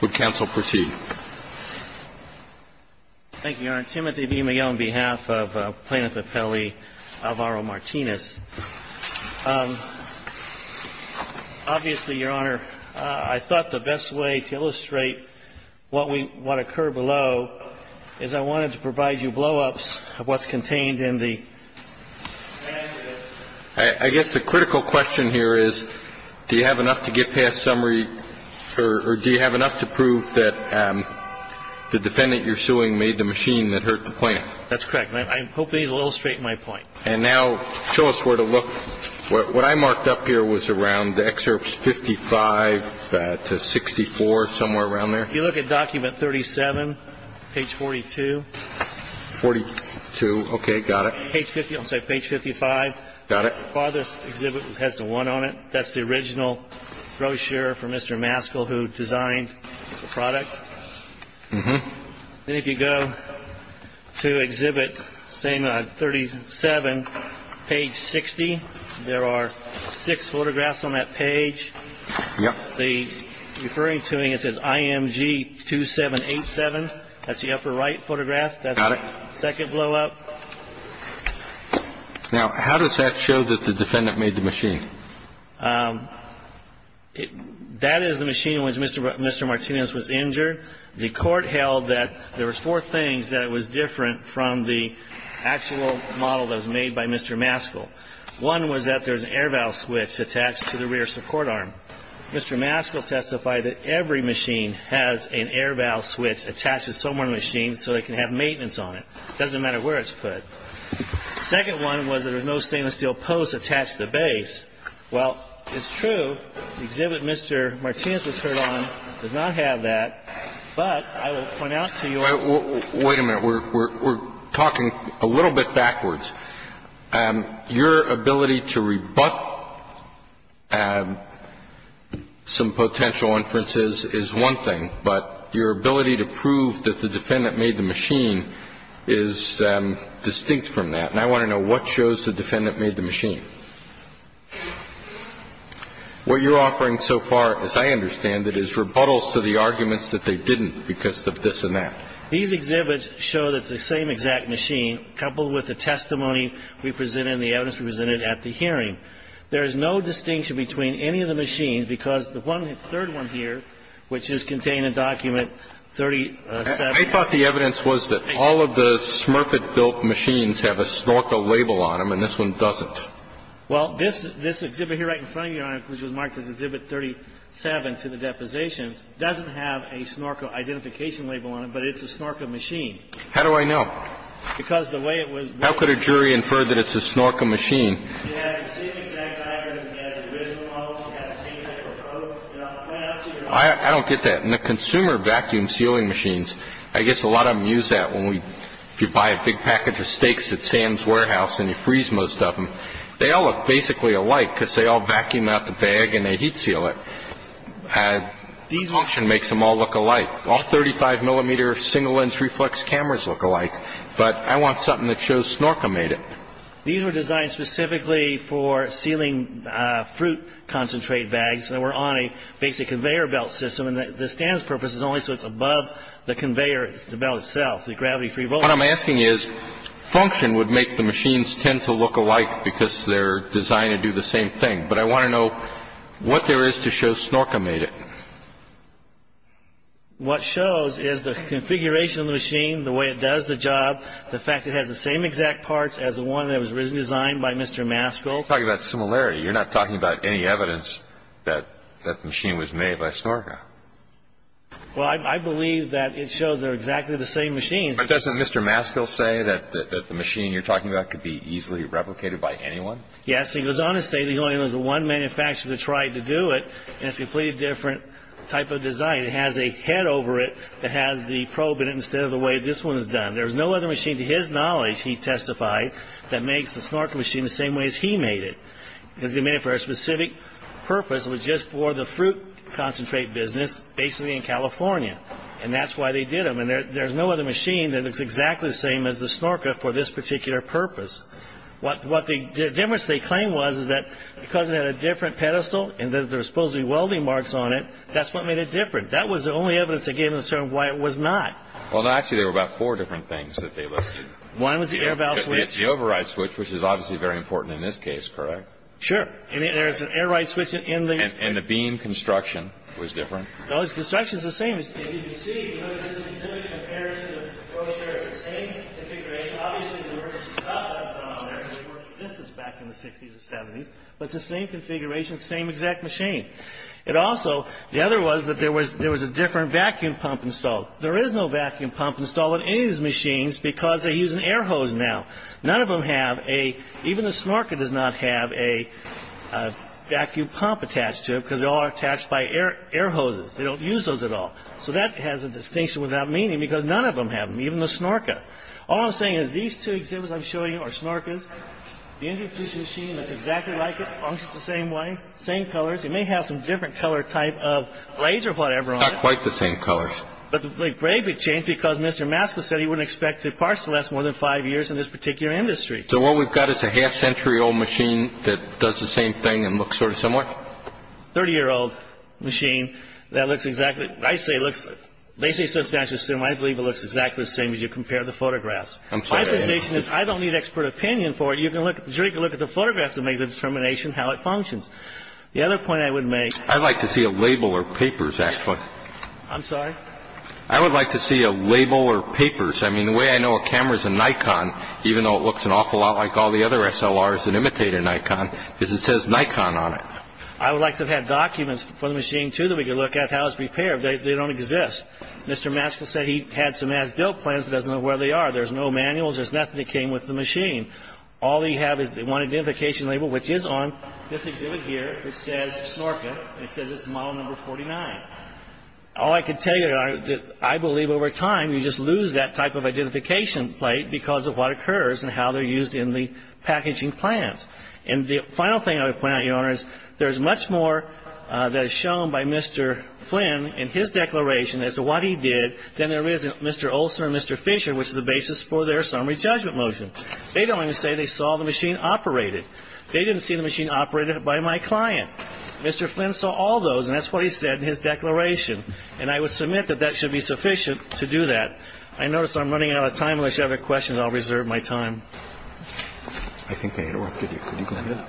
Would counsel proceed? Thank you, Your Honor. Timothy B. Miguel, on behalf of Plaintiff Appellee Alvaro Martinez. Obviously, Your Honor, I thought the best way to illustrate what occurred below is I wanted to provide you blow-ups of what's contained in the case. And I think that's the best way to illustrate what's contained in the case. I guess the critical question here is, do you have enough to get past summary or do you have enough to prove that the defendant you're suing made the machine that hurt the plaintiff? That's correct. I hope these will illustrate my point. And now show us where to look. What I marked up here was around excerpts 55 to 64, somewhere around there. If you look at document 37, page 42. 42. Okay. Got it. Page 50, I'm sorry, page 55. Got it. Father's exhibit has the 1 on it. That's the original brochure for Mr. Maskell who designed the product. Then if you go to exhibit 37, page 60, there are six photographs on that page. Yep. The referring to it, it says IMG 2787. That's the upper right photograph. Got it. That's the second blow-up. Now, how does that show that the defendant made the machine? That is the machine in which Mr. Martinez was injured. The court held that there were four things that was different from the actual model that was made by Mr. Maskell. One was that there was an air valve switch attached to the rear support arm. Mr. Maskell testified that every machine has an air valve switch attached to someone's machine so they can have maintenance on it. It doesn't matter where it's put. The second one was that there's no stainless steel post attached to the base. Well, it's true, the exhibit Mr. Martinez was hurt on does not have that, but I will point out to you Wait a minute. We're talking a little bit backwards. Your ability to rebut some potential inferences is one thing, but your ability to prove that the defendant made the machine is distinct from that. And I want to know what shows the defendant made the machine. What you're offering so far, as I understand it, is rebuttals to the arguments that they didn't because of this and that. These exhibits show that it's the same exact machine coupled with the testimony we presented and the evidence we presented at the hearing. There is no distinction between any of the machines because the third one here, which is contained in Document 37. I thought the evidence was that all of the Smurfett built machines have a snorkel label on them and this one doesn't. Well, this exhibit here right in front of you, Your Honor, which was marked as Exhibit 37 to the depositions, doesn't have a snorkel identification label on it, but it's a snorkel machine. How do I know? Because the way it was built. How could a jury infer that it's a snorkel machine? I don't get that. In the consumer vacuum sealing machines, I guess a lot of them use that when we, if you buy a big package of steaks at Sam's Warehouse and you freeze most of them, they all look basically alike because they all vacuum out the bag and they heat seal it. The function makes them all look alike. All 35 millimeter single lens reflex cameras look alike, but I want something that shows snorkel made it. These were designed specifically for sealing fruit concentrate bags. They were on a basic conveyor belt system and the standard purpose is only so it's above the conveyor, it's the belt itself, the gravity free roller. What I'm asking is, function would make the machines tend to look alike because they're designed to do the same thing, but I want to know what there is to show snorkel made it. What shows is the configuration of the machine, the way it does the job, the fact it has the design by Mr. Maskell. You're talking about similarity, you're not talking about any evidence that the machine was made by snorkel. Well, I believe that it shows they're exactly the same machines. But doesn't Mr. Maskell say that the machine you're talking about could be easily replicated by anyone? Yes, he goes on to say there's only one manufacturer that tried to do it and it's a completely different type of design. It has a head over it that has the probe in it instead of the way this one is done. There's no other machine to his knowledge, he testified, that makes the snorkel machine the same way as he made it. Because he made it for a specific purpose, it was just for the fruit concentrate business basically in California. And that's why they did them. And there's no other machine that looks exactly the same as the snorkel for this particular purpose. What the difference they claim was is that because it had a different pedestal and that there were supposed to be welding marks on it, that's what made it different. That was the only evidence that gave them a certain why it was not. Well, no, actually there were about four different things that they listed. One was the air valve switch. The override switch, which is obviously very important in this case, correct? Sure. And there's an override switch in the... And the beam construction was different? No, the construction's the same. As you can see, there's a specific comparison of the brochure. It's the same configuration. Obviously, there were some stuff that's not on there because they weren't in existence back in the 60s or 70s. But it's the same configuration, same exact machine. It also, the other was that there was a different vacuum pump installed. There is no vacuum pump installed on any of these machines because they use an air hose now. None of them have a, even the Snorka does not have a vacuum pump attached to it because they're all attached by air hoses. They don't use those at all. So that has a distinction without meaning because none of them have them, even the Snorka. All I'm saying is these two exhibits I'm showing you are Snorkas. The industry-approved machine looks exactly like it, functions the same way, same colors. It may have some different color type of blades or whatever on it. Not quite the same colors. But the blade would change because Mr. Maska said he wouldn't expect the parts to last more than five years in this particular industry. So what we've got is a half-century-old machine that does the same thing and looks sort of similar? Thirty-year-old machine that looks exactly, I say looks, they say substantially similar. I believe it looks exactly the same as you compare the photographs. I'm sorry. My presentation is I don't need expert opinion for it. You can look, the jury can look at the photographs and make the determination how it functions. The other point I would make. I'd like to see a label or papers, actually. I'm sorry? I would like to see a label or papers. I mean, the way I know a camera is a Nikon, even though it looks an awful lot like all the other SLRs that imitate a Nikon, is it says Nikon on it. I would like to have had documents for the machine, too, that we could look at how it's repaired. They don't exist. Mr. Maska said he had some as-built plans but doesn't know where they are. There's no manuals. There's nothing that came with the machine. All they have is one identification label, which is on this exhibit here, which says Snorka. And it says it's model number 49. All I can tell you, Your Honor, I believe over time you just lose that type of identification plate because of what occurs and how they're used in the packaging plans. And the final thing I would point out, Your Honor, is there's much more that is shown by Mr. Flynn in his declaration as to what he did than there is in Mr. Olson or Mr. Fisher, which is the basis for their summary judgment motion. They don't even say they saw the machine operated. They didn't see the machine operated by my client. Mr. Flynn saw all those, and that's what he said in his declaration. And I would submit that that should be sufficient to do that. I notice I'm running out of time. Unless you have any questions, I'll reserve my time. Roberts. I think I interrupted you. Could you go ahead?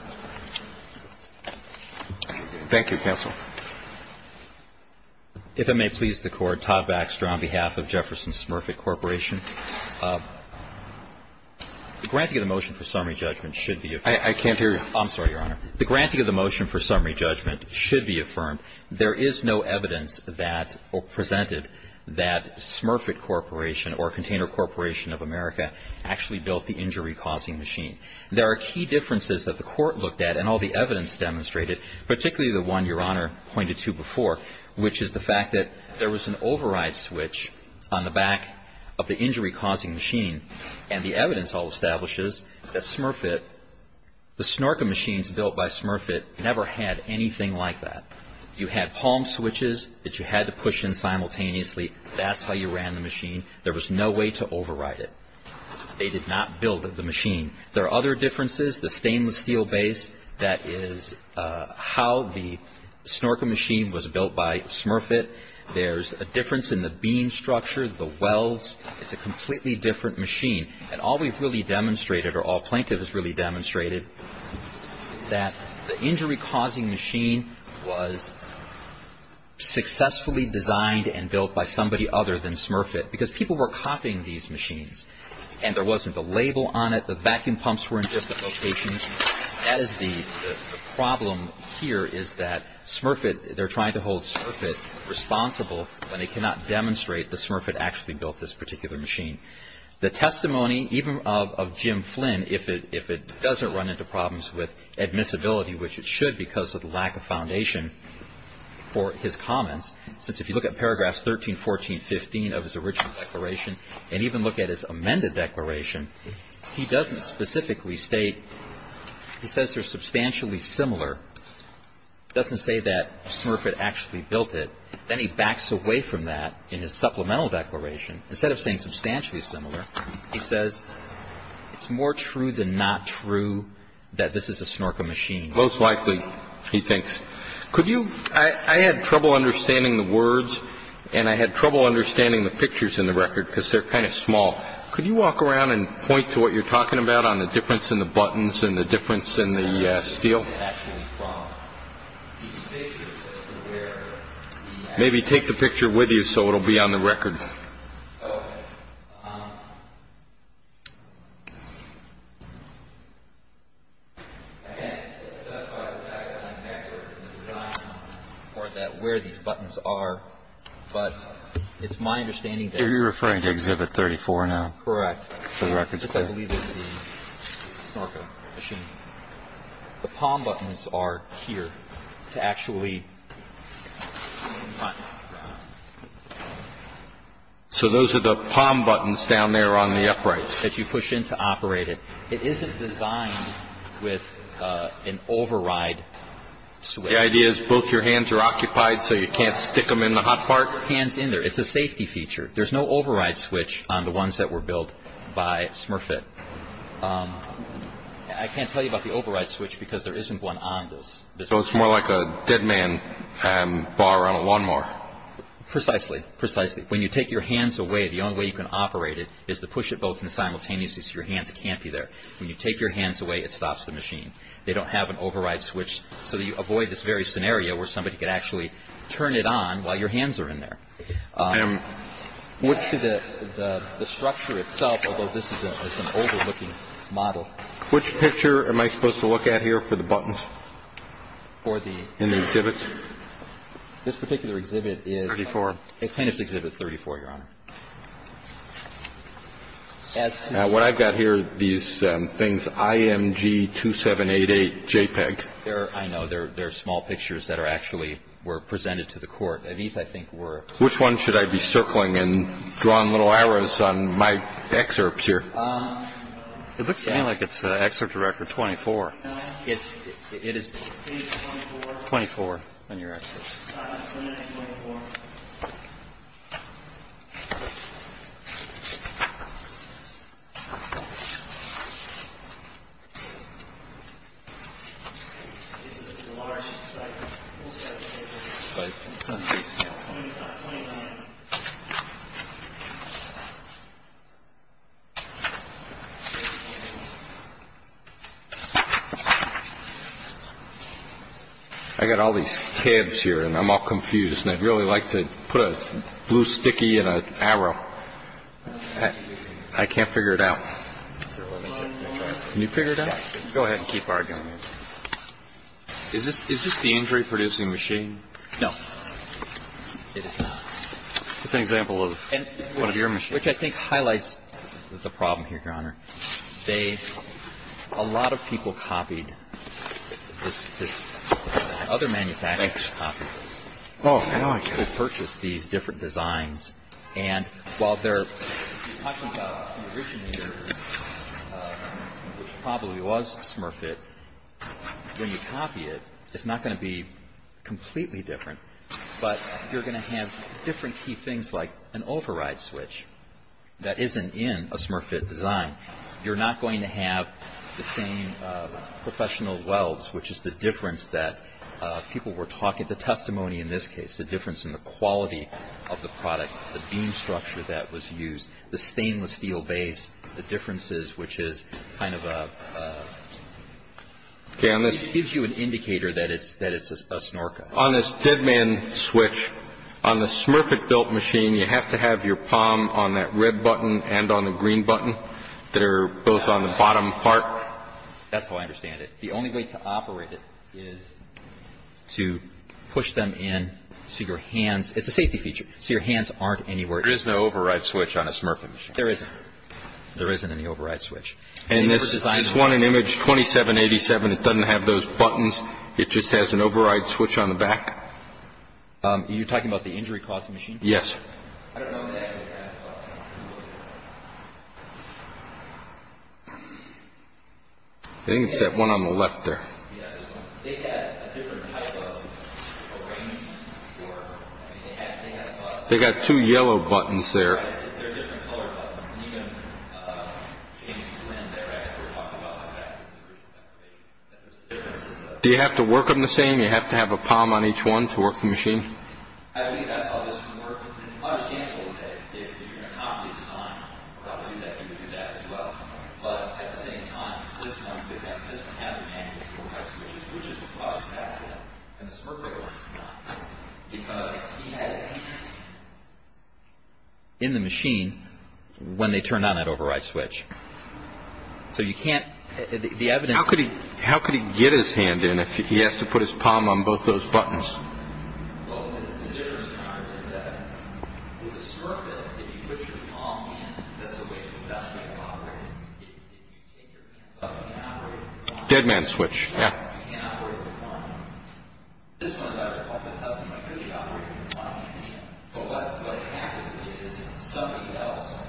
Thank you, counsel. If it may please the Court, Todd Baxter on behalf of Jefferson Smurfett Corporation. The granting of the motion for summary judgment should be effective. I can't hear you. I'm sorry, Your Honor. The granting of the motion for summary judgment should be affirmed. There is no evidence that presented that Smurfett Corporation or Container Corporation of America actually built the injury-causing machine. There are key differences that the Court looked at and all the evidence demonstrated, particularly the one Your Honor pointed to before, which is the fact that there was an override switch on the back of the injury-causing machine, and the evidence all establishes that Smurfett, the snorkel machines built by Smurfett never had anything like that. You had palm switches that you had to push in simultaneously. That's how you ran the machine. There was no way to override it. They did not build the machine. There are other differences. The stainless steel base, that is how the snorkel machine was built by Smurfett. There's a difference in the beam structure, the welds. It's a completely different machine. And all we've really demonstrated, or all plaintiffs really demonstrated, that the injury-causing machine was successfully designed and built by somebody other than Smurfett because people were copying these machines and there wasn't a label on it. The vacuum pumps were in different locations. That is the problem here is that Smurfett, they're trying to hold Smurfett responsible when they cannot demonstrate that Smurfett actually built this particular machine. The testimony even of Jim Flynn, if it doesn't run into problems with admissibility, which it should because of the lack of foundation for his comments, since if you look at paragraphs 13, 14, 15 of his original declaration and even look at his amended declaration, he doesn't specifically state, he says they're substantially similar. He doesn't say that Smurfett actually built it. Then he backs away from that in his supplemental declaration. Instead of saying substantially similar, he says it's more true than not true that this is a snorkel machine. Most likely, he thinks. Could you, I had trouble understanding the words and I had trouble understanding the pictures in the record because they're kind of small. Could you walk around and point to what you're talking about on the difference in the buttons and the difference in the steel? Maybe take the picture with you so it will be on the record. You're referring to Exhibit 34 now? Correct. I believe it's the snorkel machine. The palm buttons are here to actually run. So those are the palm buttons down there on the uprights? That you push in to operate it. It isn't designed with an override switch. The idea is both your hands are occupied so you can't stick them in the hot part? Hands in there. It's a safety feature. There's no override switch on the ones that were built by Smurfett. I can't tell you about the override switch because there isn't one on this. So it's more like a dead man bar on a lawnmower? Precisely. When you take your hands away, the only way you can operate it is to push it both simultaneously so your hands can't be there. When you take your hands away, it stops the machine. They don't have an override switch so you avoid this very scenario where somebody could actually turn it on while your hands are in there. The structure itself, although this is an older looking model. Which picture am I supposed to look at here for the buttons in the exhibit? This particular exhibit is plaintiff's exhibit 34, Your Honor. What I've got here, these things, IMG 2788 JPEG. I know there are small pictures that actually were presented to the court. These, I think, were. Which one should I be circling and drawing little arrows on my excerpts here? It looks to me like it's excerpt record 24. No. It is 24 on your excerpts. 29, 24. This is a large site. We'll say it's a large site. It's on page 25, 29. I've got all these tabs here and I'm all confused. And I'd really like to put a blue sticky and an arrow. I can't figure it out. Can you figure it out? Go ahead and keep arguing. Is this the injury producing machine? No. It is not. It's an example of one of your machines. Which I think highlights the problem here, Your Honor. A lot of people copied this. Other manufacturers copied this. Oh, now I get it. They purchased these different designs. And while they're talking about the originator, which probably was Smurfit, when you copy it, it's not going to be completely different. But you're going to have different key things like an override switch that isn't in a Smurfit design. You're not going to have the same professional welds, which is the difference that people were talking, the testimony in this case, the difference in the quality of the product, the beam structure that was used, the stainless steel base, the differences, which is kind of a, it gives you an indicator that it's a Snorka. On this dead man switch, on the Smurfit built machine, you have to have your palm on that red button and on the green button that are both on the bottom part. That's how I understand it. The only way to operate it is to push them in so your hands, it's a safety feature, so your hands aren't anywhere else. There is no override switch on a Smurfit machine. There isn't. There isn't any override switch. And this is one in image 2787. It doesn't have those buttons. It just has an override switch on the back. Are you talking about the injury costing machine? Yes. I don't know if they actually have it. I think it's that one on the left there. Yeah, this one. They had a different type of arrangement for, I mean, they had a button. They've got two yellow buttons there. They're different colored buttons. And even James Flynn, their expert, talked about the fact that there's a difference. Do you have to work them the same? Do you have to have a palm on each one to work the machine? I believe that's how this one works. It's understandable that if you're going to copy the design, probably that you would do that as well. But at the same time, this one has an anti-fuel type switch, which is what causes the accident. And the Smurfit one does not. Because he had a hand in the machine when they turned on that override switch. So you can't – the evidence – How could he get his hand in if he has to put his palm on both those buttons? Well, the difference is that with the Smurfit, if you put your palm in, that's the way the vestibule operates. If you take your hands off, you can't operate the button. Dead man switch, yeah. You can't operate the button. This one, as far as I recall, doesn't really operate the button. But what it has to do is somebody else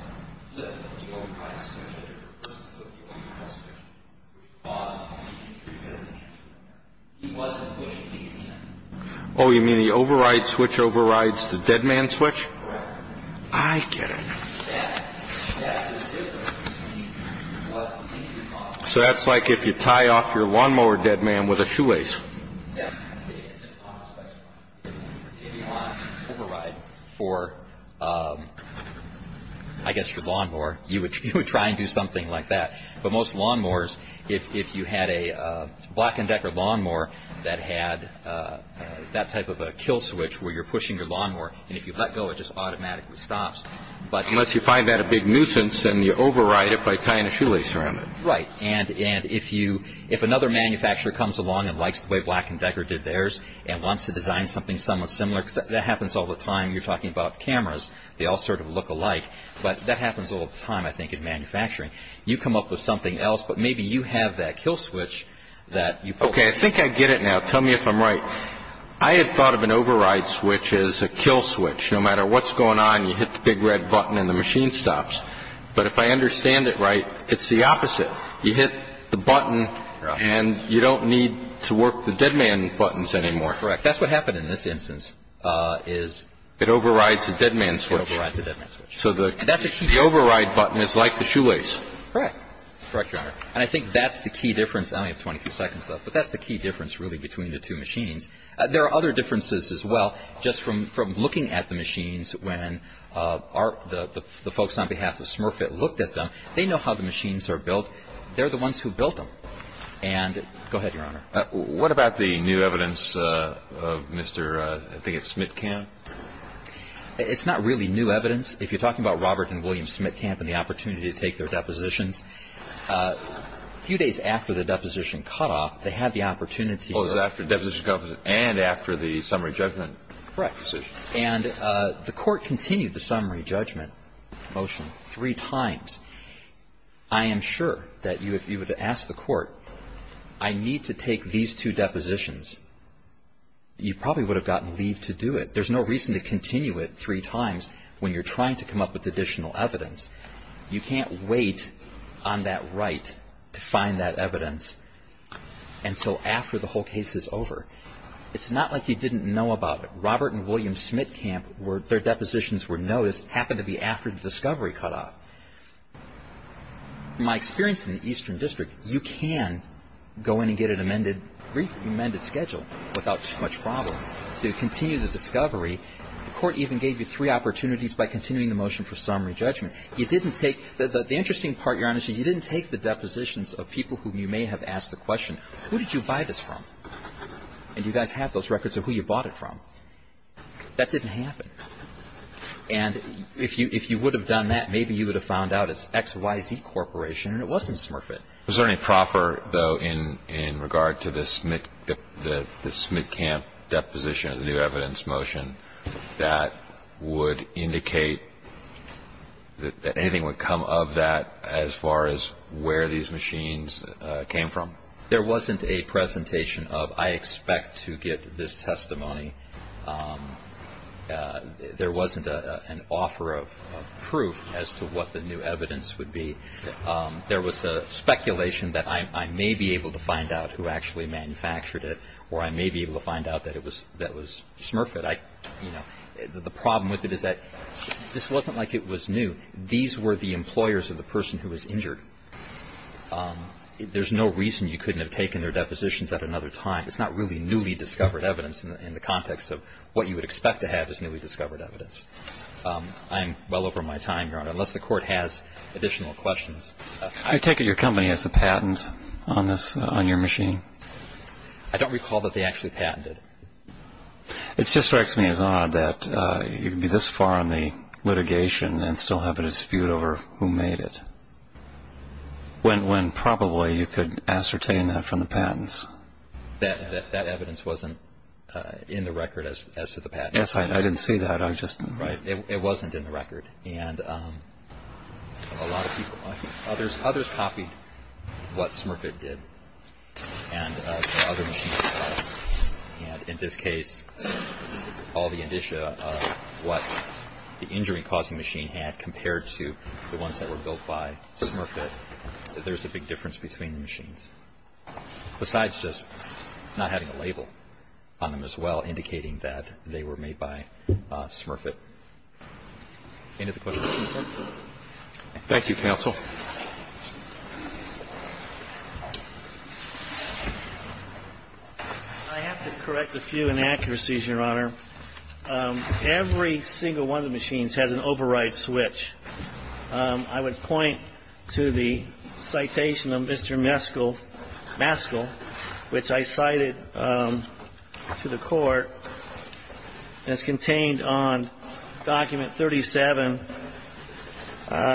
flipped the override switch, or the person flipped the override switch, which caused the accident. He wasn't pushing these hands. Oh, you mean the override switch overrides the dead man switch? Correct. I get it. Yes. Yes, it's different. So that's like if you tie off your lawnmower dead man with a shoelace. Yes. If you want to override for, I guess, your lawnmower, you would try and do something like that. But most lawnmowers, if you had a Black & Decker lawnmower that had that type of a kill switch where you're pushing your lawnmower, and if you let go, it just automatically stops. Unless you find that a big nuisance and you override it by tying a shoelace around it. Right. And if another manufacturer comes along and likes the way Black & Decker did theirs and wants to design something somewhat similar, because that happens all the time. You're talking about cameras. They all sort of look alike. But that happens all the time, I think, in manufacturing. You come up with something else, but maybe you have that kill switch that you push. Okay. I think I get it now. Tell me if I'm right. I had thought of an override switch as a kill switch. No matter what's going on, you hit the big red button and the machine stops. But if I understand it right, it's the opposite. You hit the button and you don't need to work the dead man buttons anymore. Correct. That's what happened in this instance is it overrides the dead man switch. It overrides the dead man switch. So the override button is like the shoelace. Correct. Correct, Your Honor. And I think that's the key difference. I only have 23 seconds left. But that's the key difference, really, between the two machines. There are other differences as well. Just from looking at the machines, when the folks on behalf of Smurfett looked at them, they know how the machines are built. They're the ones who built them. And go ahead, Your Honor. What about the new evidence of Mr. I think it's Smitkamp? It's not really new evidence. If you're talking about Robert and William Smitkamp and the opportunity to take their depositions, a few days after the deposition cutoff, they had the opportunity. Oh, it was after the deposition cutoff and after the summary judgment decision. Correct. And the Court continued the summary judgment motion three times. I am sure that if you were to ask the Court, I need to take these two depositions, you probably would have gotten leave to do it. There's no reason to continue it three times when you're trying to come up with additional evidence. You can't wait on that right to find that evidence until after the whole case is over. It's not like you didn't know about it. Robert and William Smitkamp, their depositions were noticed, happened to be after the discovery cutoff. My experience in the Eastern District, you can go in and get an amended schedule without too much problem. So you continue the discovery. The Court even gave you three opportunities by continuing the motion for summary judgment. You didn't take the interesting part, Your Honor, is you didn't take the depositions of people who you may have asked the question, who did you buy this from? And do you guys have those records of who you bought it from? That didn't happen. And if you would have done that, maybe you would have found out it's XYZ Corporation and it wasn't Smurfett. Was there any proffer, though, in regard to the Smitkamp deposition of the new evidence motion that would indicate that anything would come of that as far as where these machines came from? There wasn't a presentation of, I expect to get this testimony. There wasn't an offer of proof as to what the new evidence would be. There was speculation that I may be able to find out who actually manufactured it or I may be able to find out that it was Smurfett. The problem with it is that this wasn't like it was new. These were the employers of the person who was injured. There's no reason you couldn't have taken their depositions at another time. It's not really newly discovered evidence in the context of what you would expect to have as newly discovered evidence. I'm well over my time, Your Honor. Unless the Court has additional questions. I take it your company has a patent on your machine? I don't recall that they actually patented it. It just strikes me as odd that you'd be this far in the litigation and still have a dispute over who made it when probably you could ascertain that from the patents. That evidence wasn't in the record as to the patent. Yes, I didn't see that. It wasn't in the record. Others copied what Smurfett did and what other machines did. In this case, all the indicia of what the injury-causing machine had compared to the ones that were built by Smurfett. There's a big difference between the machines. Besides just not having a label on them as well indicating that they were made by Smurfett. End of the question. Thank you, counsel. I have to correct a few inaccuracies, Your Honor. Every single one of the machines has an override switch. I would point to the citation of Mr. Maskell, which I cited to the court. It's contained on document 37,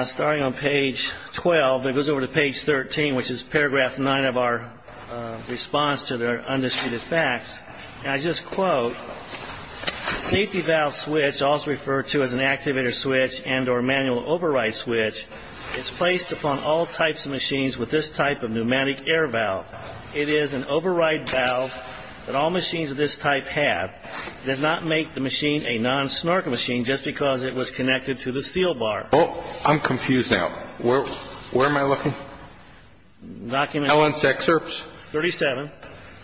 starting on page 12. It goes over to page 13, which is paragraph 9 of our response to the undisputed facts. And I just quote, safety valve switch, also referred to as an activator switch and or manual override switch, is placed upon all types of machines with this type of pneumatic air valve. It is an override valve that all machines of this type have. It does not make the machine a non-snorkel machine just because it was connected to the steel bar. Oh, I'm confused now. Where am I looking? Ellen's excerpts. 37.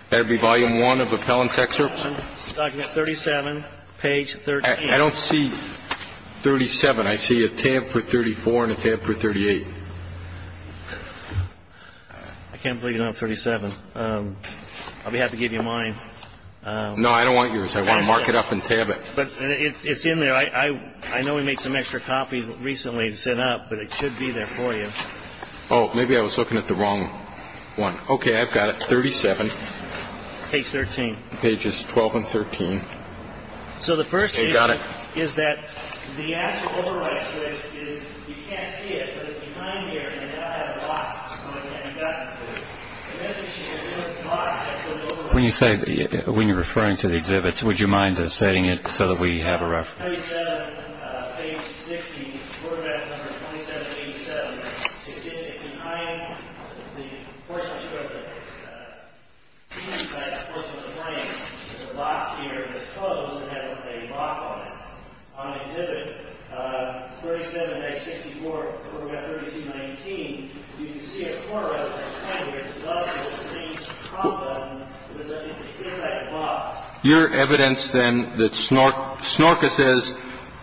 That would be volume 1 of the Ellen's excerpts? Document 37, page 38. I don't see 37. I see a tab for 34 and a tab for 38. I can't believe you don't have 37. I'll be happy to give you mine. No, I don't want yours. I want to mark it up and tab it. But it's in there. I know we made some extra copies recently to send out, but it should be there for you. Oh, maybe I was looking at the wrong one. Okay, I've got it. Document 37. Page 13. Pages 12 and 13. Okay, got it. So the first issue is that the actual override switch is you can't see it, but it's behind here and it does have a lock on it and you've got to put it. And that's the issue. It doesn't lock. When you say, when you're referring to the exhibits, would you mind setting it so that we have a reference? Document 37. Page 16. Quarterback number 2787. It's behind the portion of the frame. The box here is closed and has a lock on it. On exhibit 37. Page 64. Quarterback 3219. You can see a quarter out of that frame. There's a button, there's a green prompt button. It's a zigzag box. Your evidence, then, that Snorka says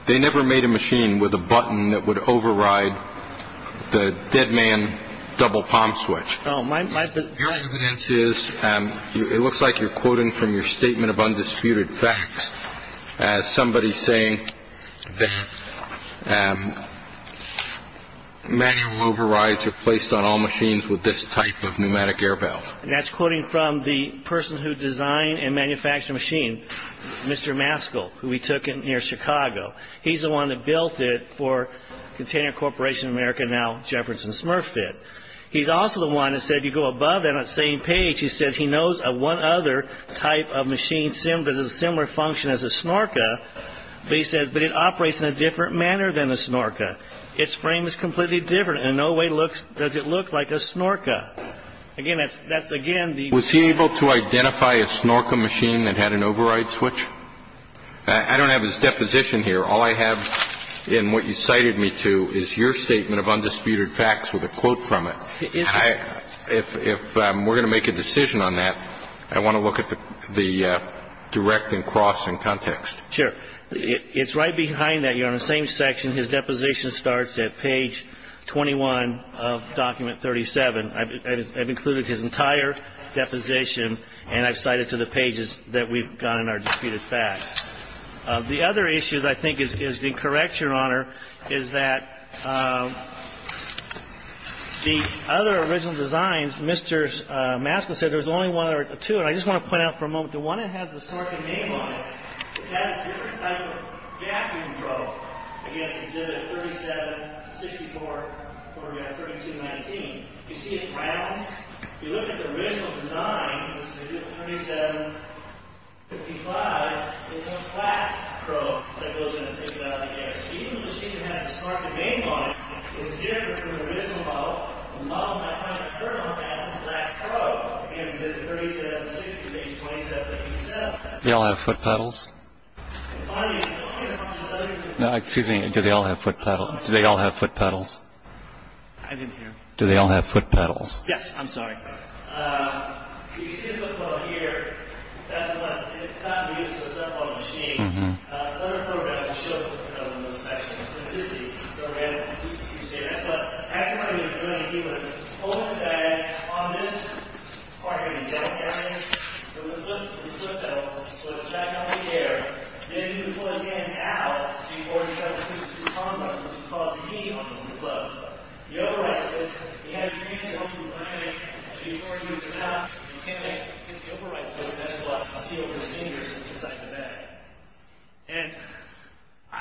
they never made a machine with a button that would override the dead man double palm switch. Your evidence is it looks like you're quoting from your statement of undisputed facts as somebody saying that manual overrides are placed on all machines with this type of pneumatic air valve. And that's quoting from the person who designed and manufactured the machine, Mr. Maskell, who we took in near Chicago. He's the one that built it for Container Corporation of America, now Jefferson Smurf Fit. He's also the one that said, you go above that same page, he said he knows of one other type of machine that has a similar function as a Snorka, but he says, but it operates in a different manner than a Snorka. Its frame is completely different and in no way does it look like a Snorka. Again, that's, again, the ---- Was he able to identify a Snorka machine that had an override switch? I don't have his deposition here. All I have in what you cited me to is your statement of undisputed facts with a quote from it. If we're going to make a decision on that, I want to look at the direct and cross in context. Sure. It's right behind that. You're on the same section. His deposition starts at page 21 of document 37. I've included his entire deposition, and I've cited to the pages that we've got in our deputed facts. The other issue that I think is incorrect, Your Honor, is that the other original designs, Mr. Maskell said there's only one or two, and I just want to point out for a moment, the one that has the Snorka name on it, it has a different type of vacuum probe against exhibit 37, 64, or 3219. You see it's round. If you look at the original design, which is exhibit 3755, it's a flat probe that goes in and takes it out of the air. Even though the machine has the Snorka name on it, it's different from the original model. The model might have a kernel that has a flat probe against exhibit 37, 64, or 2217. Do they all have foot pedals? I'm finding it. No, excuse me. Do they all have foot pedals? I didn't hear. Do they all have foot pedals? Yes. I'm sorry.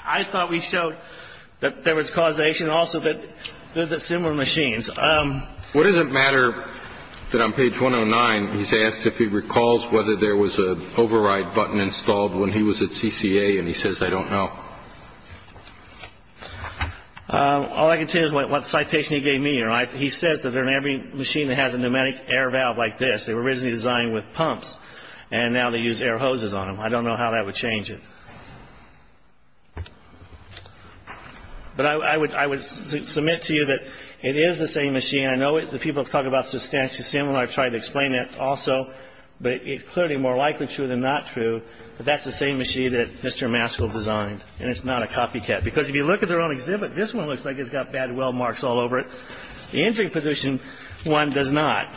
I thought we showed that there was causation also, but they're similar machines. What does it matter that on page 109, he's asked if he recalls whether there was an override button installed when he was at CCA, and he says, I don't know. All I can tell you is what citation he gave me. He says that in every machine that has a pneumatic air valve like this, they were originally designed with pumps, and now they use air hoses on them. I don't know how that would change it. But I would submit to you that it is the same machine. I know that people talk about substantial similarity. I've tried to explain that also. But it's clearly more likely true than not true that that's the same machine that Mr. Maskell designed, and it's not a copycat. Because if you look at their own exhibit, this one looks like it's got bad weld marks all over it. The entry position one does not.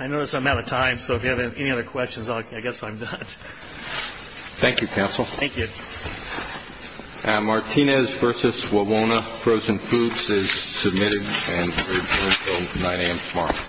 I notice I'm out of time, so if you have any other questions, I guess I'm done. Thank you, counsel. Thank you. Martinez v. Wawona Frozen Foods is submitted, and we're adjourned until 9 a.m. tomorrow.